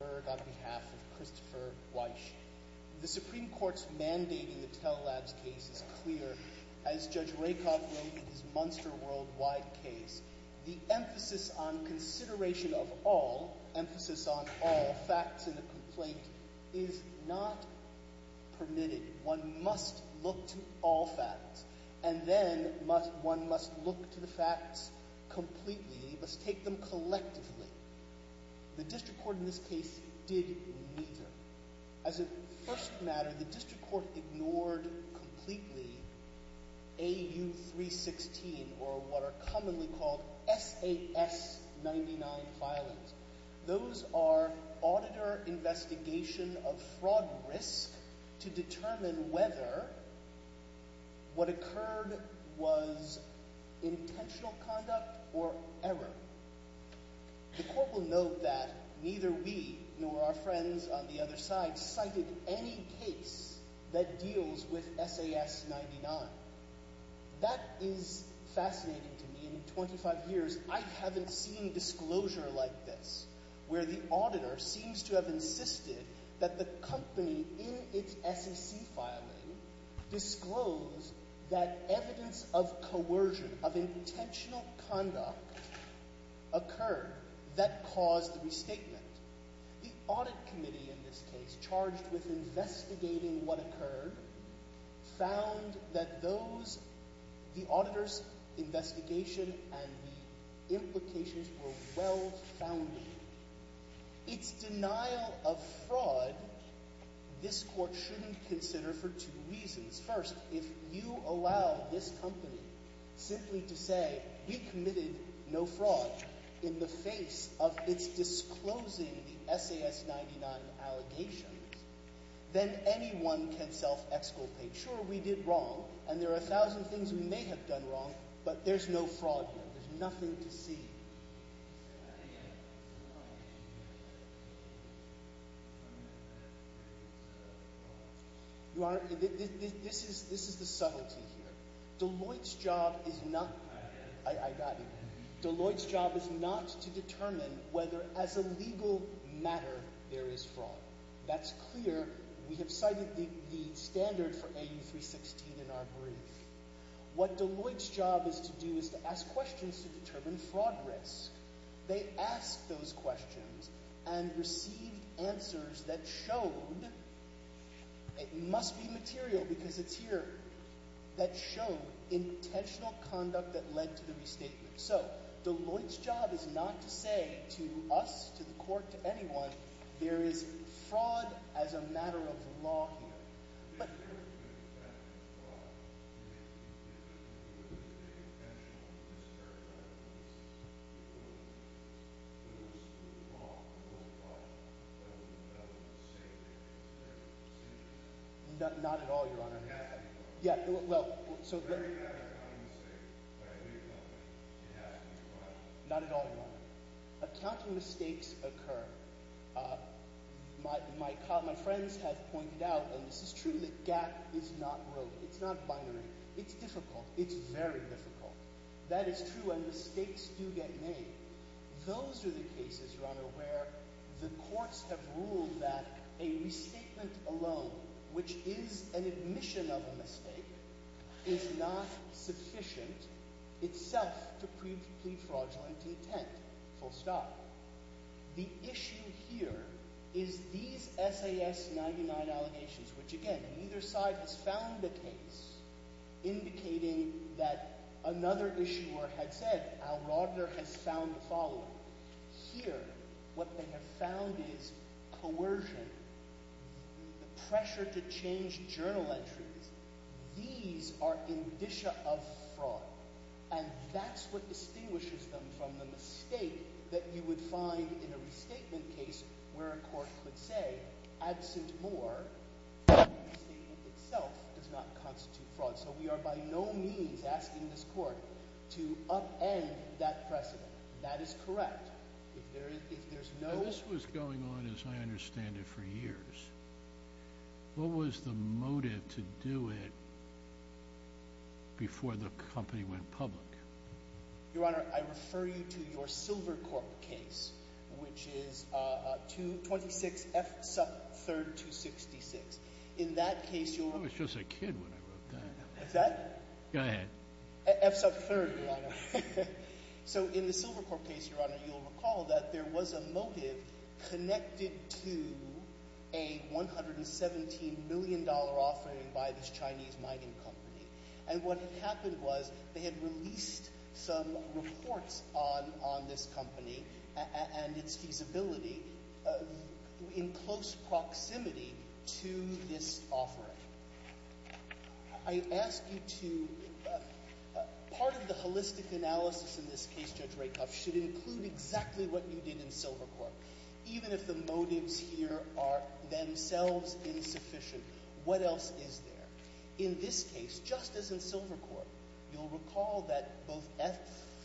behalf of Christopher Weish. The Supreme Court's mandate in the Tell Labs case is clear. As Judge Rakoff wrote in his Munster Worldwide case, the emphasis on consideration of all, emphasis on all, facts in a complaint is not permitted. One must look to all facts. And then one must look to the facts completely, must take them collectively. The District Court in this case did neither. As a first matter, the District Court ignored completely AU316 or what are commonly called SAS99 filings. Those are auditor investigation of fraud risk to determine whether what occurred was intentional conduct or error. The Court will note that neither we nor our friends on the other side cited any case that deals with SAS99. That is fascinating to me. In 25 years, I haven't seen disclosure like this, where the auditor seems to have insisted that the company in its SEC filing disclosed that evidence of fraud. The audit committee in this case charged with investigating what occurred found that those, the auditor's investigation and the implications were well founded. Its denial of fraud, this Court shouldn't consider for two reasons. First, if you allow this company simply to say, we committed no fraud in the face of its disclosing the SAS99 allegations, then anyone can self-exculpate. Sure, we did wrong and there are a thousand things we may have done wrong, but there's no fraud here. There's nothing to see. This is the subtlety here. Deloitte's job is not to determine whether as a legal matter there is fraud. That's clear. We have cited the standard for AU316 in our brief. What They asked those questions and received answers that showed, it must be material because it's here, that showed intentional conduct that led to the restatement. So, Deloitte's job is not to say to us, to the Court, to anyone, there is fraud as a matter of law here. If there is a fact of fraud, would it be intentional to discredit Deloitte's lawful product of the development of safety and security procedures? Not at all, Your Honor. Yes. Yeah, well, so Then you have an accounting mistake by a legal company. Not at all, Your Honor. Accounting mistakes occur. My friends have pointed out, and this is true, that GAP is not rote. It's not binary. It's difficult. It's very difficult. That is true, and mistakes do get made. Those are the cases, Your Honor, where the courts have ruled that a restatement alone, which is an admission of a mistake, is not sufficient itself to plead fraudulent intent, full stop. The issue here is these SAS99 allegations, which, again, neither side has found a case indicating that another issuer had said, Alrodner has found the following. Here, what they have found is coercion, the pressure to change journal entries. These are indicia of fraud, and that's what distinguishes them from the mistake that you would find in a restatement case where a court could say, absent more, the mistake itself does not constitute fraud. So we are by no means asking this court to upend that precedent. That is correct. If there's no... This was going on, as I understand it, for years. What was the motive to do it before the company went public? Your Honor, I refer you to your Silvercorp case, which is 26F sub 3rd, 266. In that case... I was just a kid when I wrote that. What's that? Go ahead. F sub 3rd, Your Honor. So in the Silvercorp case, Your Honor, you'll recall that there was a motive connected to a $117 million offering by this Chinese mining company. And what had produced some reports on this company and its feasibility in close proximity to this offering. I ask you to... Part of the holistic analysis in this case, Judge Rakoff, should include exactly what you did in Silvercorp. Even if the motives here are themselves insufficient, what else is there? In this case, just as in Silvercorp, you'll recall that both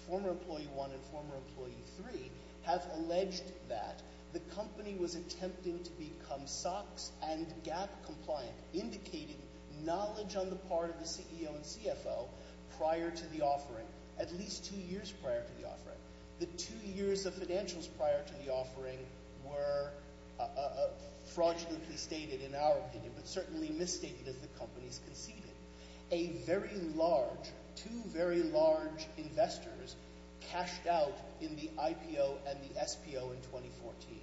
former employee 1 and former employee 3 have alleged that the company was attempting to become SOX and GAP compliant, indicating knowledge on the part of the CEO and CFO prior to the offering, at least two years prior to the offering. The two years of financials prior to the offering were fraudulently stated in our opinion, but certainly misstated as the companies conceded. A very large, two very large investors cashed out in the IPO and the SPO in 2014.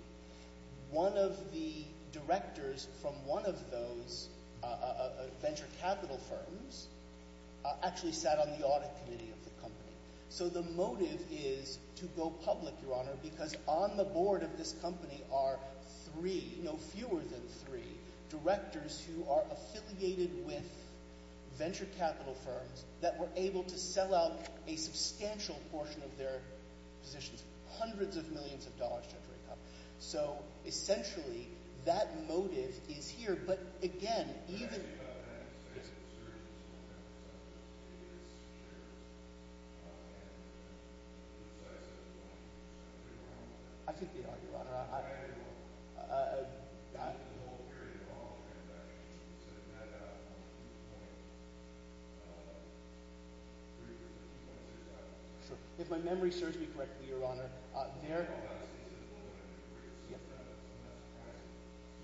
One of the directors from one of those venture capital firms actually sat on the audit committee of the company. So the motive is to go public, Your Honor, because on the board of this company are three, no fewer than three, directors who are affiliated with venture capital firms that were able to sell out a substantial portion of their positions, hundreds of millions of dollars, Judge Rakoff. So essentially, that I think they are, Your Honor. If my memory serves me correctly, Your Honor, there...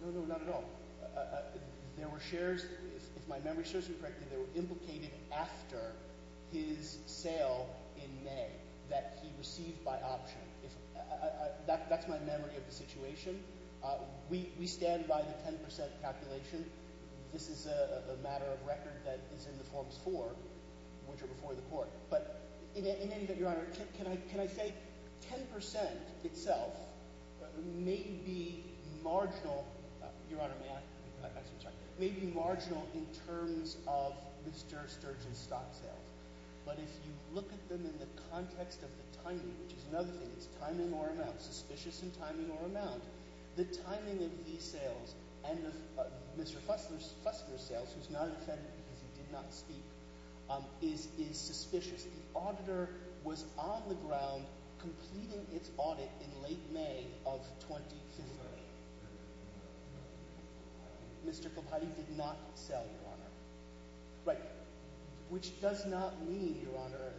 No, no, not at all. There were shares, if my memory serves me correctly, that were implicated after his sale in May that he received by option. That's my memory of the situation. We stand by the 10% calculation. This is a matter of record that is in the forms for, which are before the court. But in any event, Your Honor, can I say 10% itself may be marginal, Your Honor, may I ask you to check? May be marginal in terms of Mr. Sturgeon's stock sales. But if you look at them in the context of the timing, which is another thing, it's timing or amount, suspicious in timing or amount, the timing of these sales and of Mr. Fussler's sales, who's not infected because he did not speak, is suspicious. The auditor was on the ground completing its audit in late May of 2015. Mr. Kilpatrick did not sell, Your Honor. Right. Which does not mean, Your Honor,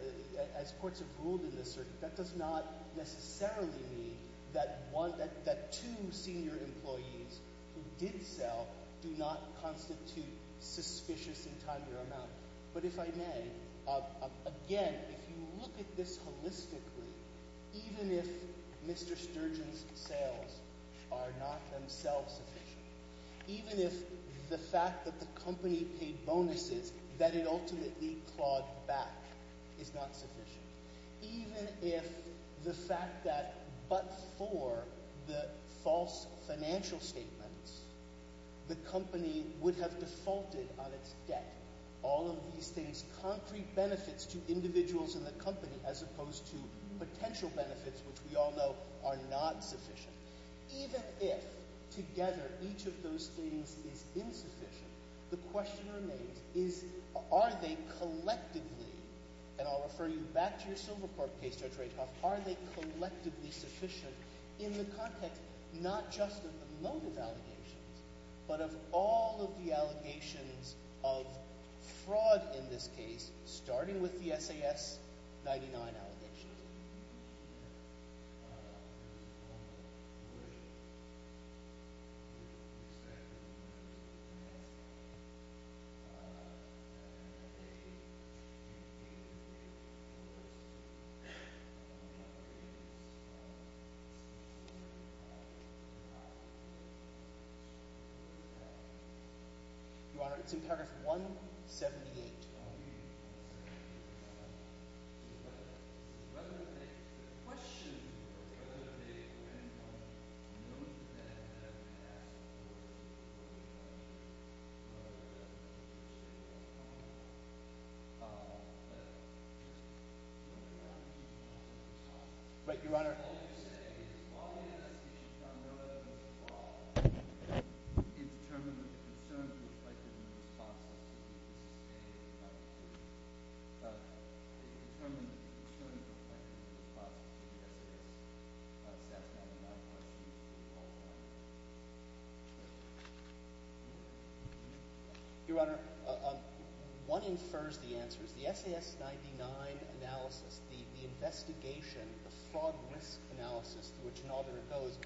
as courts have ruled in this circuit, that does not necessarily mean that one, that two senior employees who did sell do not constitute suspicious in timing or amount. But if I may, again, if you look at this holistically, even if Mr. Sturgeon's sales are not themselves sufficient, even if the fact that the company paid bonuses that it ultimately clawed back is not sufficient, even if the fact that but for the false financial statements, the company would have defaulted on its debt, all of these things, concrete benefits to individuals in the company as opposed to potential benefits, which we all know are not sufficient, even if together each of those things is insufficient, the question remains is are they collectively, and I'll refer you back to your Silvercorp case, Judge Rakoff, are they collectively sufficient in the context not just of the motive allegations, but of all of the allegations of fraud in this case, starting with the SAS-99 allegations? Mr. Sturgeon. Mr. Sturgeon. Mr. Sturgeon. Mr. Sturgeon. Mr. Sturgeon. Mr. Sturgeon. Mr. Sturgeon. Mr. Sturgeon. Your Honor, one infers the answer. The SAS-99 analysis, the investigation, the fraud risk analysis through which an auditor goes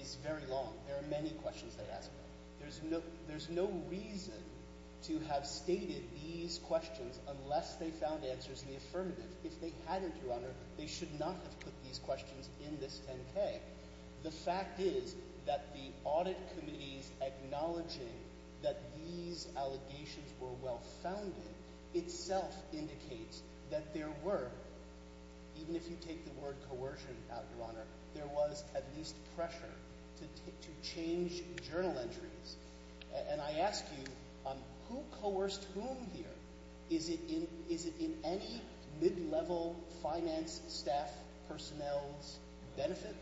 is very long. There are many questions they ask about it. There's no reason to have stated these questions unless they found answers in the affirmative. If they hadn't, Your Honor, they should not have put these questions in this 10-K. The fact is that the audit committees acknowledging that these allegations were well-founded itself indicates that there were, even if you take the word coercion out, Your Honor, there was at least pressure to change journal entries. And I ask you, who coerced whom here? Is it in any mid-level finance staff personnel's benefit?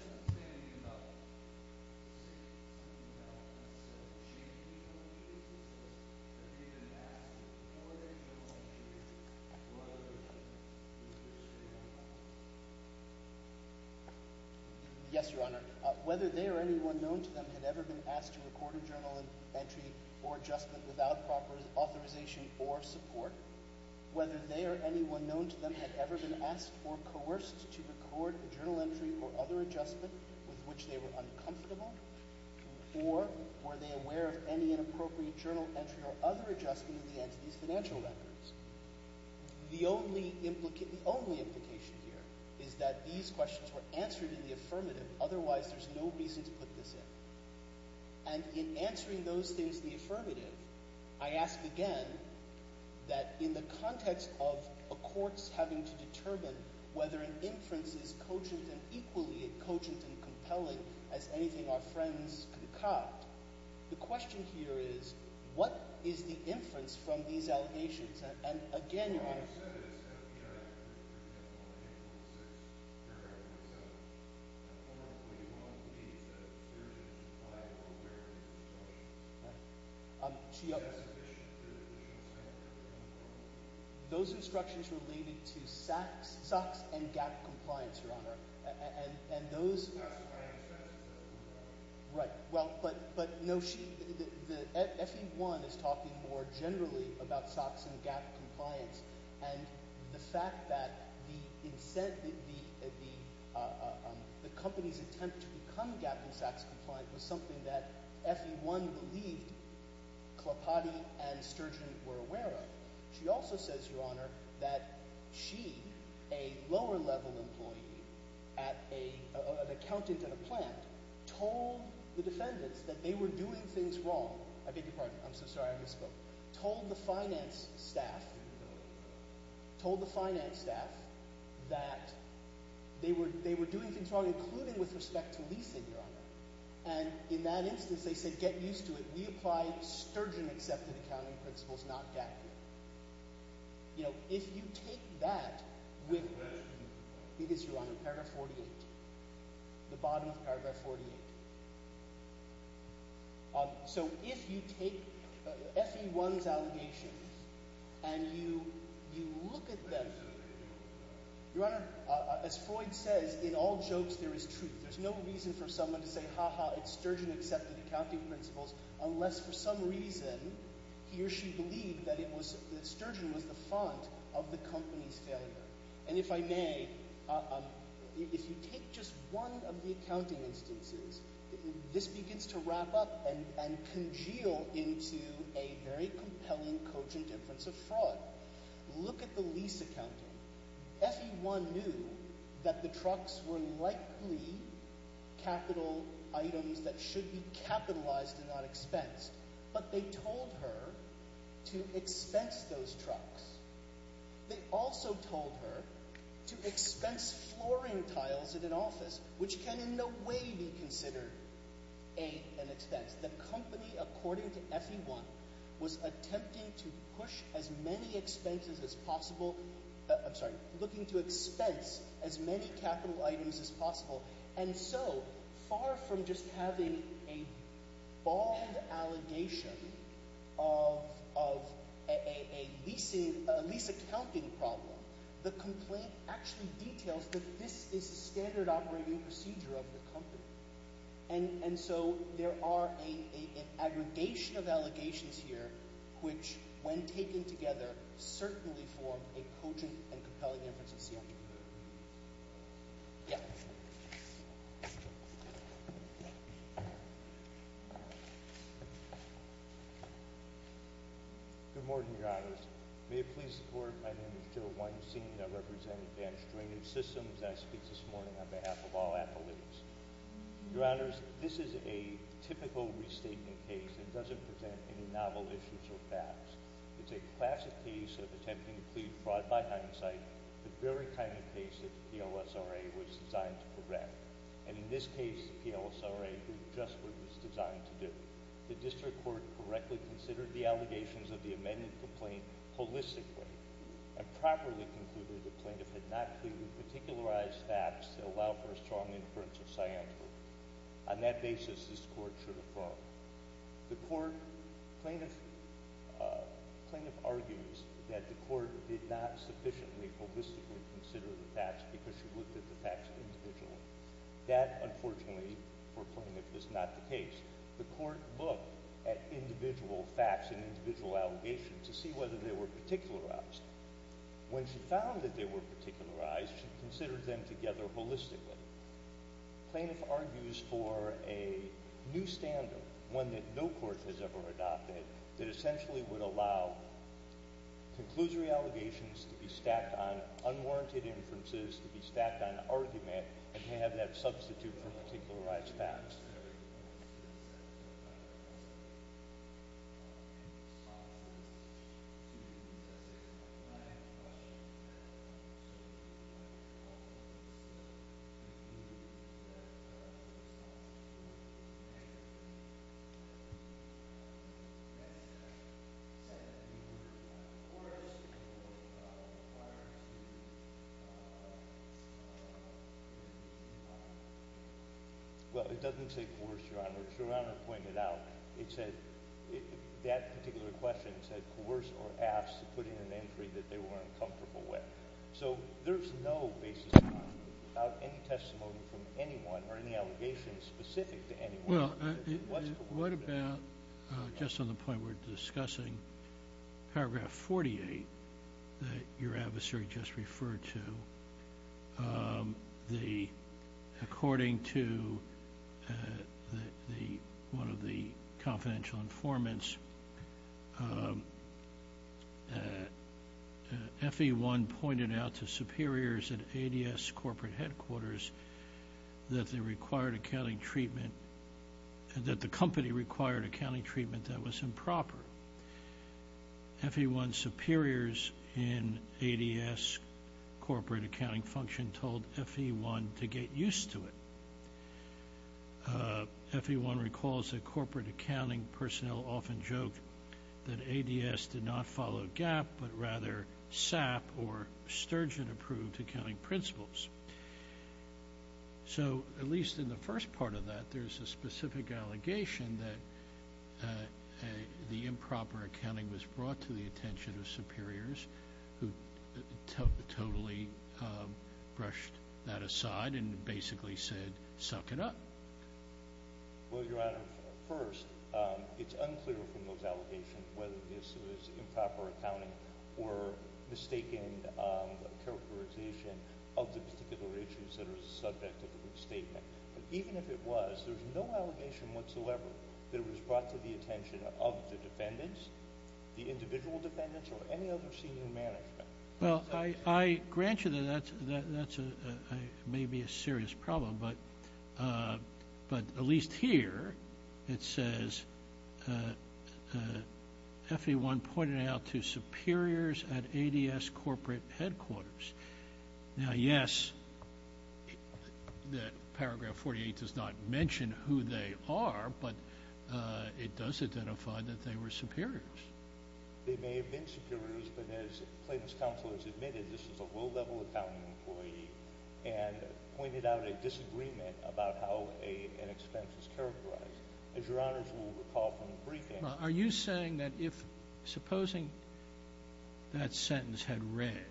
Yes, Your Honor. Whether they or anyone known to them had ever been asked to record a journal entry or adjustment without proper authorization or support, whether they or anyone known to them had ever been asked or coerced to record a journal entry or other adjustment with which they were uncomfortable, or were they aware of any inappropriate journal entry or other adjustment in the entity's financial records? The only implication here is that these questions were answered in the affirmative. Otherwise, there's no reason to put this in. And in answering those things in the affirmative, I ask again that in the context of a court's having to determine whether an inference is cogent and equally cogent and compelling as anything our friends concoct, the question here is, what is the inference from these allegations? And again, Your Honor. Those instructions related to SOX and GAAP compliance, Your Honor. Right. But no, FE1 is talking more generally about SOX and GAAP compliance. And the fact that the company's attempt to become GAAP and SOX compliant was something that FE1 believed Clopati and Sturgeon were aware of. She also says, Your Honor, that she, a lower level employee, an accountant at a plant, told the defendants that they were doing things wrong. I beg your pardon. I'm so sorry. I misspoke. Told the finance staff that they were doing things wrong, including with respect to leasing, Your Honor. And in that instance, they said, get used to it. We apply Sturgeon-accepted accounting principles, not GAAP. You know, if you take that with, because, Your Honor, paragraph 48, the bottom of paragraph 48. So if you take FE1's allegations and you look at them, Your Honor, as Freud says, in all jokes there is truth. There's no reason for someone to say, ha-ha, it's Sturgeon-accepted accounting principles, unless for some reason he or she believed that Sturgeon was the font of the company's failure. And if I may, if you take just one of the accounting instances, this begins to wrap up and congeal into a very compelling, cogent inference of fraud. Look at the lease accounting. FE1 knew that the trucks were likely capital items that should be capitalized and not expensed, but they told her to expense those trucks. They also told her to expense flooring tiles in an office, which can in no way be considered an expense. The company, according to FE1, was attempting to push as many expenses as possible, I'm sorry, looking to expense as many capital items as possible. And so, far from just having a bold allegation of a lease accounting problem, the complaint actually details that this is standard operating procedure of the company. And so, there are an aggregation of allegations here, which, when taken together, certainly form a cogent and compelling inference of CFPB. Yeah. Good morning, Your Honors. May it please the Court, my name is Joe Weinstein. I represent Advanced Drainage Systems. I speak this morning on behalf of all appellees. Your Honors, this is a typical restatement case that doesn't present any novel issues or facts. It's a classic case of attempting to plead fraud by hindsight, the very kind of case that the PLSRA was designed to correct. And in this case, the PLSRA did just what it was designed to do. The District Court correctly considered the allegations of the amended complaint holistically and properly concluded the plaintiff had not clearly particularized facts that allow for a strong inference of scientific. On that basis, this Court should affirm. The Court plaintiff argues that the Court did not sufficiently holistically consider the facts because she looked at the facts individually. That, unfortunately, for a plaintiff, is not the case. The Court looked at individual facts and individual allegations to see whether they were particularized. When she found that they were particularized, she considered them together holistically. The plaintiff argues for a new standard, one that no court has ever adopted, that essentially would allow conclusory allegations to be stacked on unwarranted inferences, to be stacked on... Well, it doesn't take force, Your Honor. As Your Honor pointed out, that particular question said, coerce or ask to put in an entry that they were uncomfortable with. So there's no basis to argue about any testimony from anyone or any allegations specific to anyone. Well, what about just on the point we're discussing, paragraph 48, that your adversary just referred to, according to one of the confidential informants, FE1 pointed out to superiors at ADS corporate headquarters that they required accounting treatment, that the company required accounting treatment that was improper. FE1 superiors in ADS corporate accounting function told FE1 to get used to it. FE1 recalls that corporate accounting personnel often joked that ADS did not follow GAAP, but rather SAP or Sturgeon approved accounting principles. So, at least in the first part of that, there's a specific allegation that the improper accounting was brought to the attention of superiors who totally brushed that aside and basically said, suck it up. Well, Your Honor, first, it's unclear from those allegations whether this was improper characterization of the particular issues that are the subject of the statement. But even if it was, there's no allegation whatsoever that it was brought to the attention of the defendants, the individual defendants or any other senior management. Well, I grant you that that's maybe a serious problem, but at least here it says FE1 pointed out to superiors at ADS corporate headquarters. Now, yes, that paragraph 48 does not mention who they are, but it does identify that they were superiors. They may have been superiors, but as plaintiff's counsel has admitted, this was a low-level accounting employee and pointed out a disagreement about how an expense was characterized. Now, are you saying that if, supposing that sentence had read,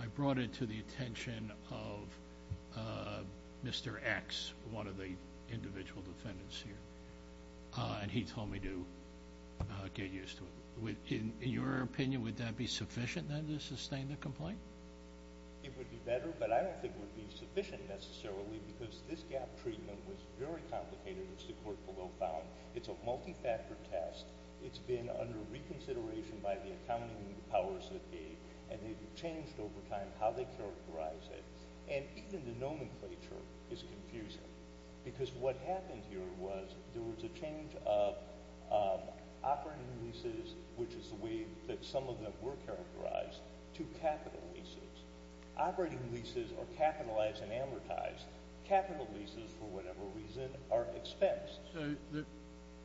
I brought it to the attention of Mr. X, one of the individual defendants here, and he told me to get used to it, in your opinion, would that be sufficient then to sustain the complaint? It would be better, but I don't think it would be sufficient necessarily because this gap in treatment was very complicated, as the court below found. It's a multi-factor test. It's been under reconsideration by the accounting powers that be, and they've changed over time how they characterize it, and even the nomenclature is confusing because what happened here was there was a change of operating leases, which is the way that some of them were characterized, to capital leases. Operating leases are capitalized and amortized. Capital leases, for whatever reason, are expensed.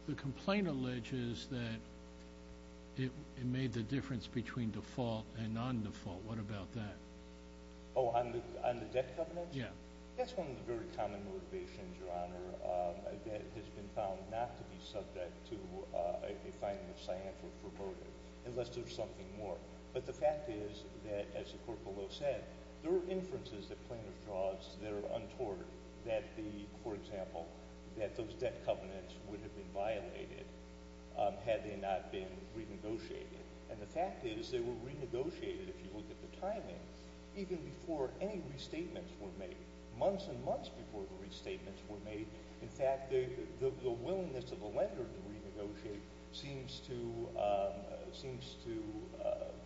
The complaint alleges that it made the difference between default and non-default. What about that? Oh, on the debt covenants? Yeah. That's one of the very common motivations, Your Honor, that has been found not to be subject to a finding of scientific purported, unless there's something more. But the fact is that, as the court below said, there are inferences that plaintiff draws that are untoward that the, for example, that those debt covenants would have been violated had they not been renegotiated. And the fact is they were renegotiated, if you look at the timing, even before any restatements were made, months and months before the restatements were made. In fact, the willingness of the lender to renegotiate seems to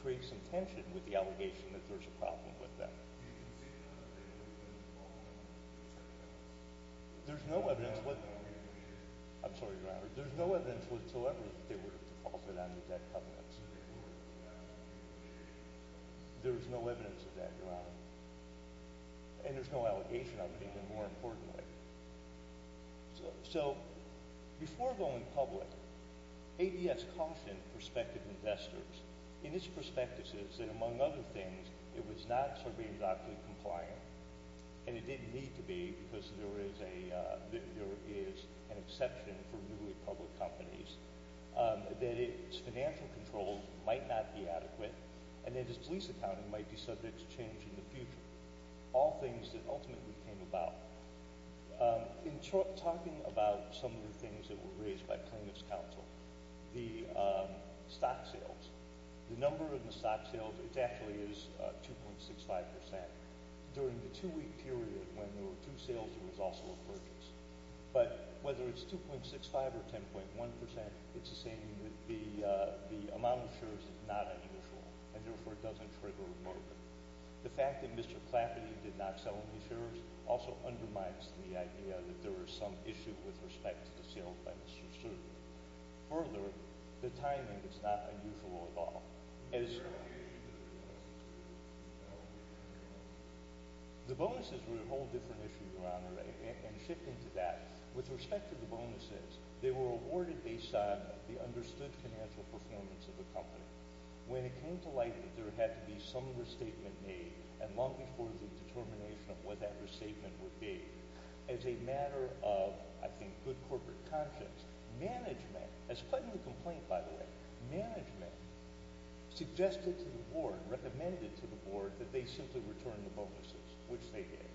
create some tension with the allegation that there's a problem with them. Do you concede that they were defaulted on the debt covenants? There's no evidence. I'm sorry, Your Honor. There's no evidence whatsoever that they were defaulted on the debt covenants. There's no evidence of that, Your Honor. And there's no allegation of it, even more importantly. So, before going public, ADS cautioned prospective investors in its prospectuses that, among other things, it was not surveillance-optically compliant, and it didn't need to be because there is an exception for newly public companies, that its financial controls might not be adequate, and that its lease accounting might be subject to change in the future, all things that ultimately came about. In talking about some of the things that were raised by plaintiff's counsel, the stock sales, it actually is 2.65 percent. During the two-week period when there were two sales, there was also a purchase. But whether it's 2.65 or 10.1 percent, it's the same. The amount of shares is not unusual, and, therefore, it doesn't trigger a merger. The fact that Mr. Clapney did not sell any shares also undermines the idea that there is some issue with respect to sales by Mr. Stern. Further, the timing is not unusual at all. The bonuses were a whole different issue, Your Honor, and shifting to that, with respect to the bonuses, they were awarded based on the understood financial performance of the company. When it came to light that there had to be some restatement made, and long before the determination of what that restatement would be, as a matter of, I think, good corporate conscience, management, as part of the complaint, by the way, management suggested to the board, recommended to the board, that they simply return the bonuses, which they did.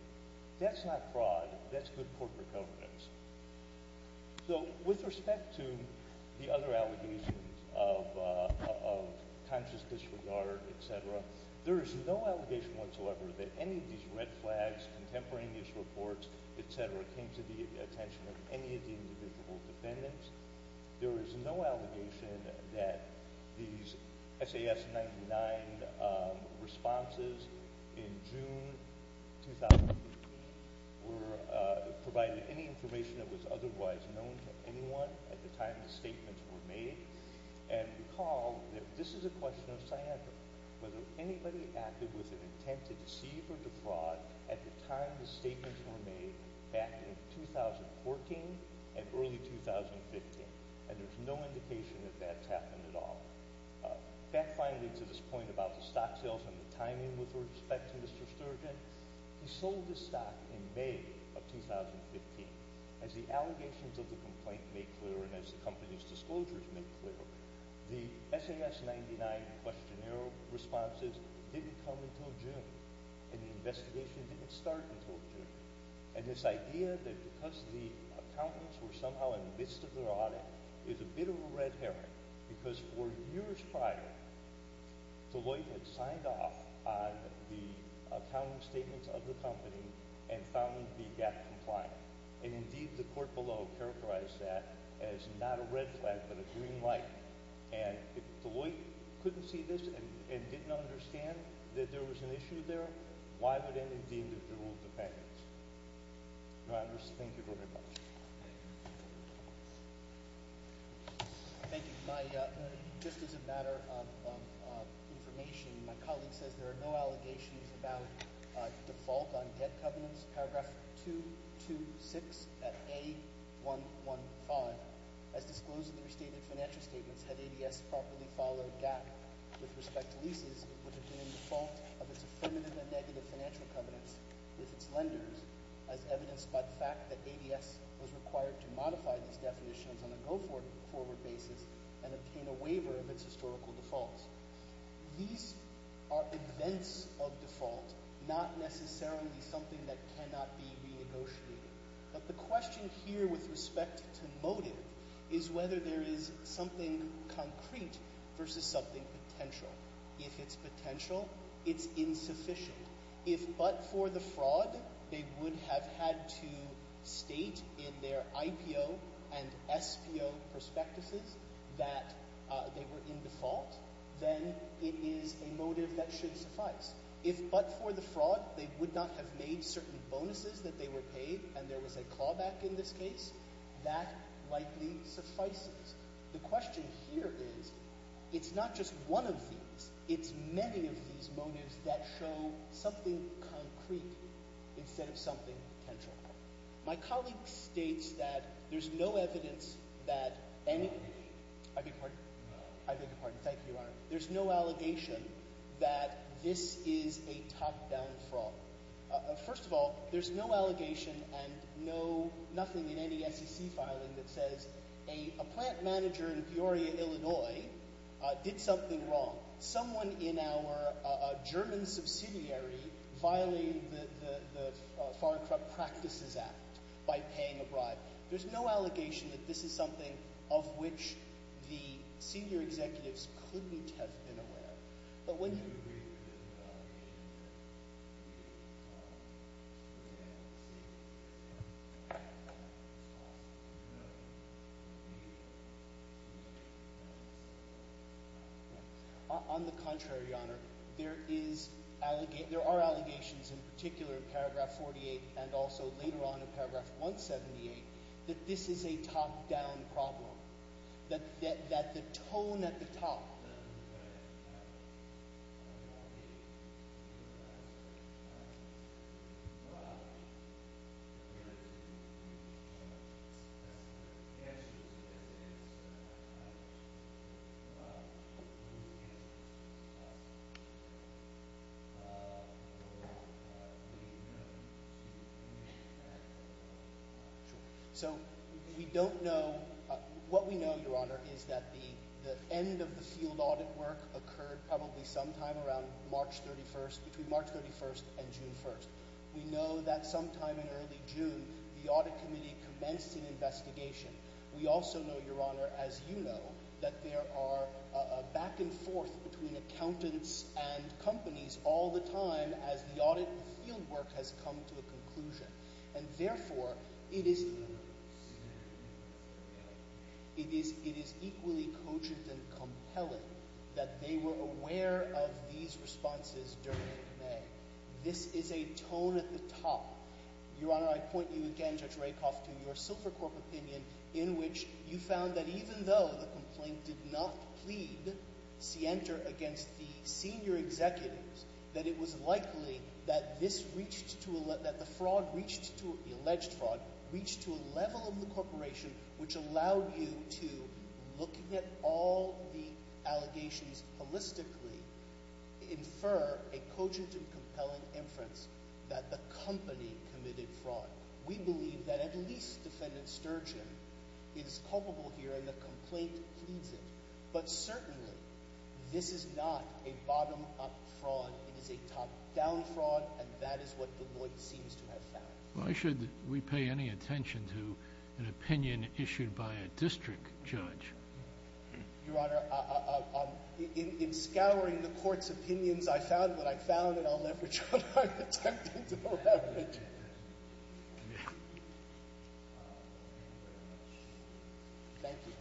That's not fraud. That's good corporate governance. So, with respect to the other allegations of conscious disregard, et cetera, there is no allegation whatsoever that any of these red flags, contemporaneous reports, et cetera, came to the attention of any of the individual defendants. There is no allegation that these SAS-99 responses in June 2018 provided any information that was otherwise known to anyone at the time the statements were made. And recall that this is a question of sciatica, whether anybody acted with an intent to deceive or defraud at the time the statements were made back in 2014 and early 2015. And there's no indication that that's happened at all. Back finally to this point about the stock sales and the timing with respect to Mr. Sturgeon, he sold his stock in May of 2015. As the allegations of the complaint made clear and as the company's disclosures made clear, the SAS-99 questionnaire responses didn't come until June and the investigation didn't start until June. And this idea that because the accountants were somehow in the midst of their audit is a bit of a red herring because four years prior, Deloitte had signed off on the accounting statements of the company and found them to be GAAP compliant. And indeed, the court below characterized that as not a red flag but a green light. And if Deloitte couldn't see this and didn't understand that there was an issue there, why would any deemed it the rule of defense? Your Honors, thank you very much. Thank you. Just as a matter of information, my colleague says there are no allegations about default on debt covenants, paragraph 226 at A115. As disclosed in the restated financial statements, had ADS properly followed GAAP with respect to leases, it would have been in default of its affirmative and negative financial covenants with its lenders, as evidenced by the fact that ADS was required to modify these definitions on a go-forward basis and obtain a waiver of its historical defaults. These are events of default, not necessarily something that cannot be renegotiated. But the question here with respect to motive is whether there is something concrete versus something potential. If it's potential, it's insufficient. If but for the fraud, they would have had to state in their IPO and SPO prospectuses that they were in default, then it is a motive that should suffice. If but for the fraud, they would not have made certain bonuses that they were paid, and there was a callback in this case, that likely suffices. The question here is, it's not just one of these. It's many of these motives that show something concrete instead of something potential. My colleague states that there's no evidence that any... I beg your pardon. I beg your pardon. Thank you, Your Honor. There's no allegation that this is a top-down fraud. First of all, there's no allegation and nothing in any SEC filing that says a plant manager in Peoria, Illinois, did something wrong. Someone in our German subsidiary violated the Foreign Corrupt Practices Act by paying a bribe. There's no allegation that this is something of which the senior executives couldn't have been aware. But when you... On the contrary, Your Honor, there are allegations in particular in paragraph 48 and also later on in paragraph 178 that this is a top-down problem, that the tone at the top... Yes. So, we don't know... What we know, Your Honor, is that the end of the field audit work occurred probably sometime around March 31st, between March 31st and June 1st. We know that sometime in early June, the audit committee commenced an investigation. We also know, Your Honor, as you know, that there are back and forth between accountants and companies all the time as the audit field work has come to a conclusion. And therefore, it is... It is equally cogent and compelling that they were aware of these responses during May. This is a tone at the top. Your Honor, I point you again, Judge Rakoff, to your Silvercorp opinion in which you found that even though the complaint did not plead scienter against the senior executives, that it was likely that this reached to a... that the fraud reached to... the alleged fraud reached to a level of the corporation which allowed you to, looking at all the allegations holistically, infer a cogent and compelling inference that the company committed fraud. We believe that at least Defendant Sturgeon is culpable here and the complaint pleads it. But certainly, this is not a bottom-up fraud. It is a top-down fraud, and that is what Deloitte seems to have found. Why should we pay any attention to an opinion issued by a district judge? Your Honor, in scouring the Court's opinions, I found what I found, and I'll leverage what I've attempted to leverage. Thank you.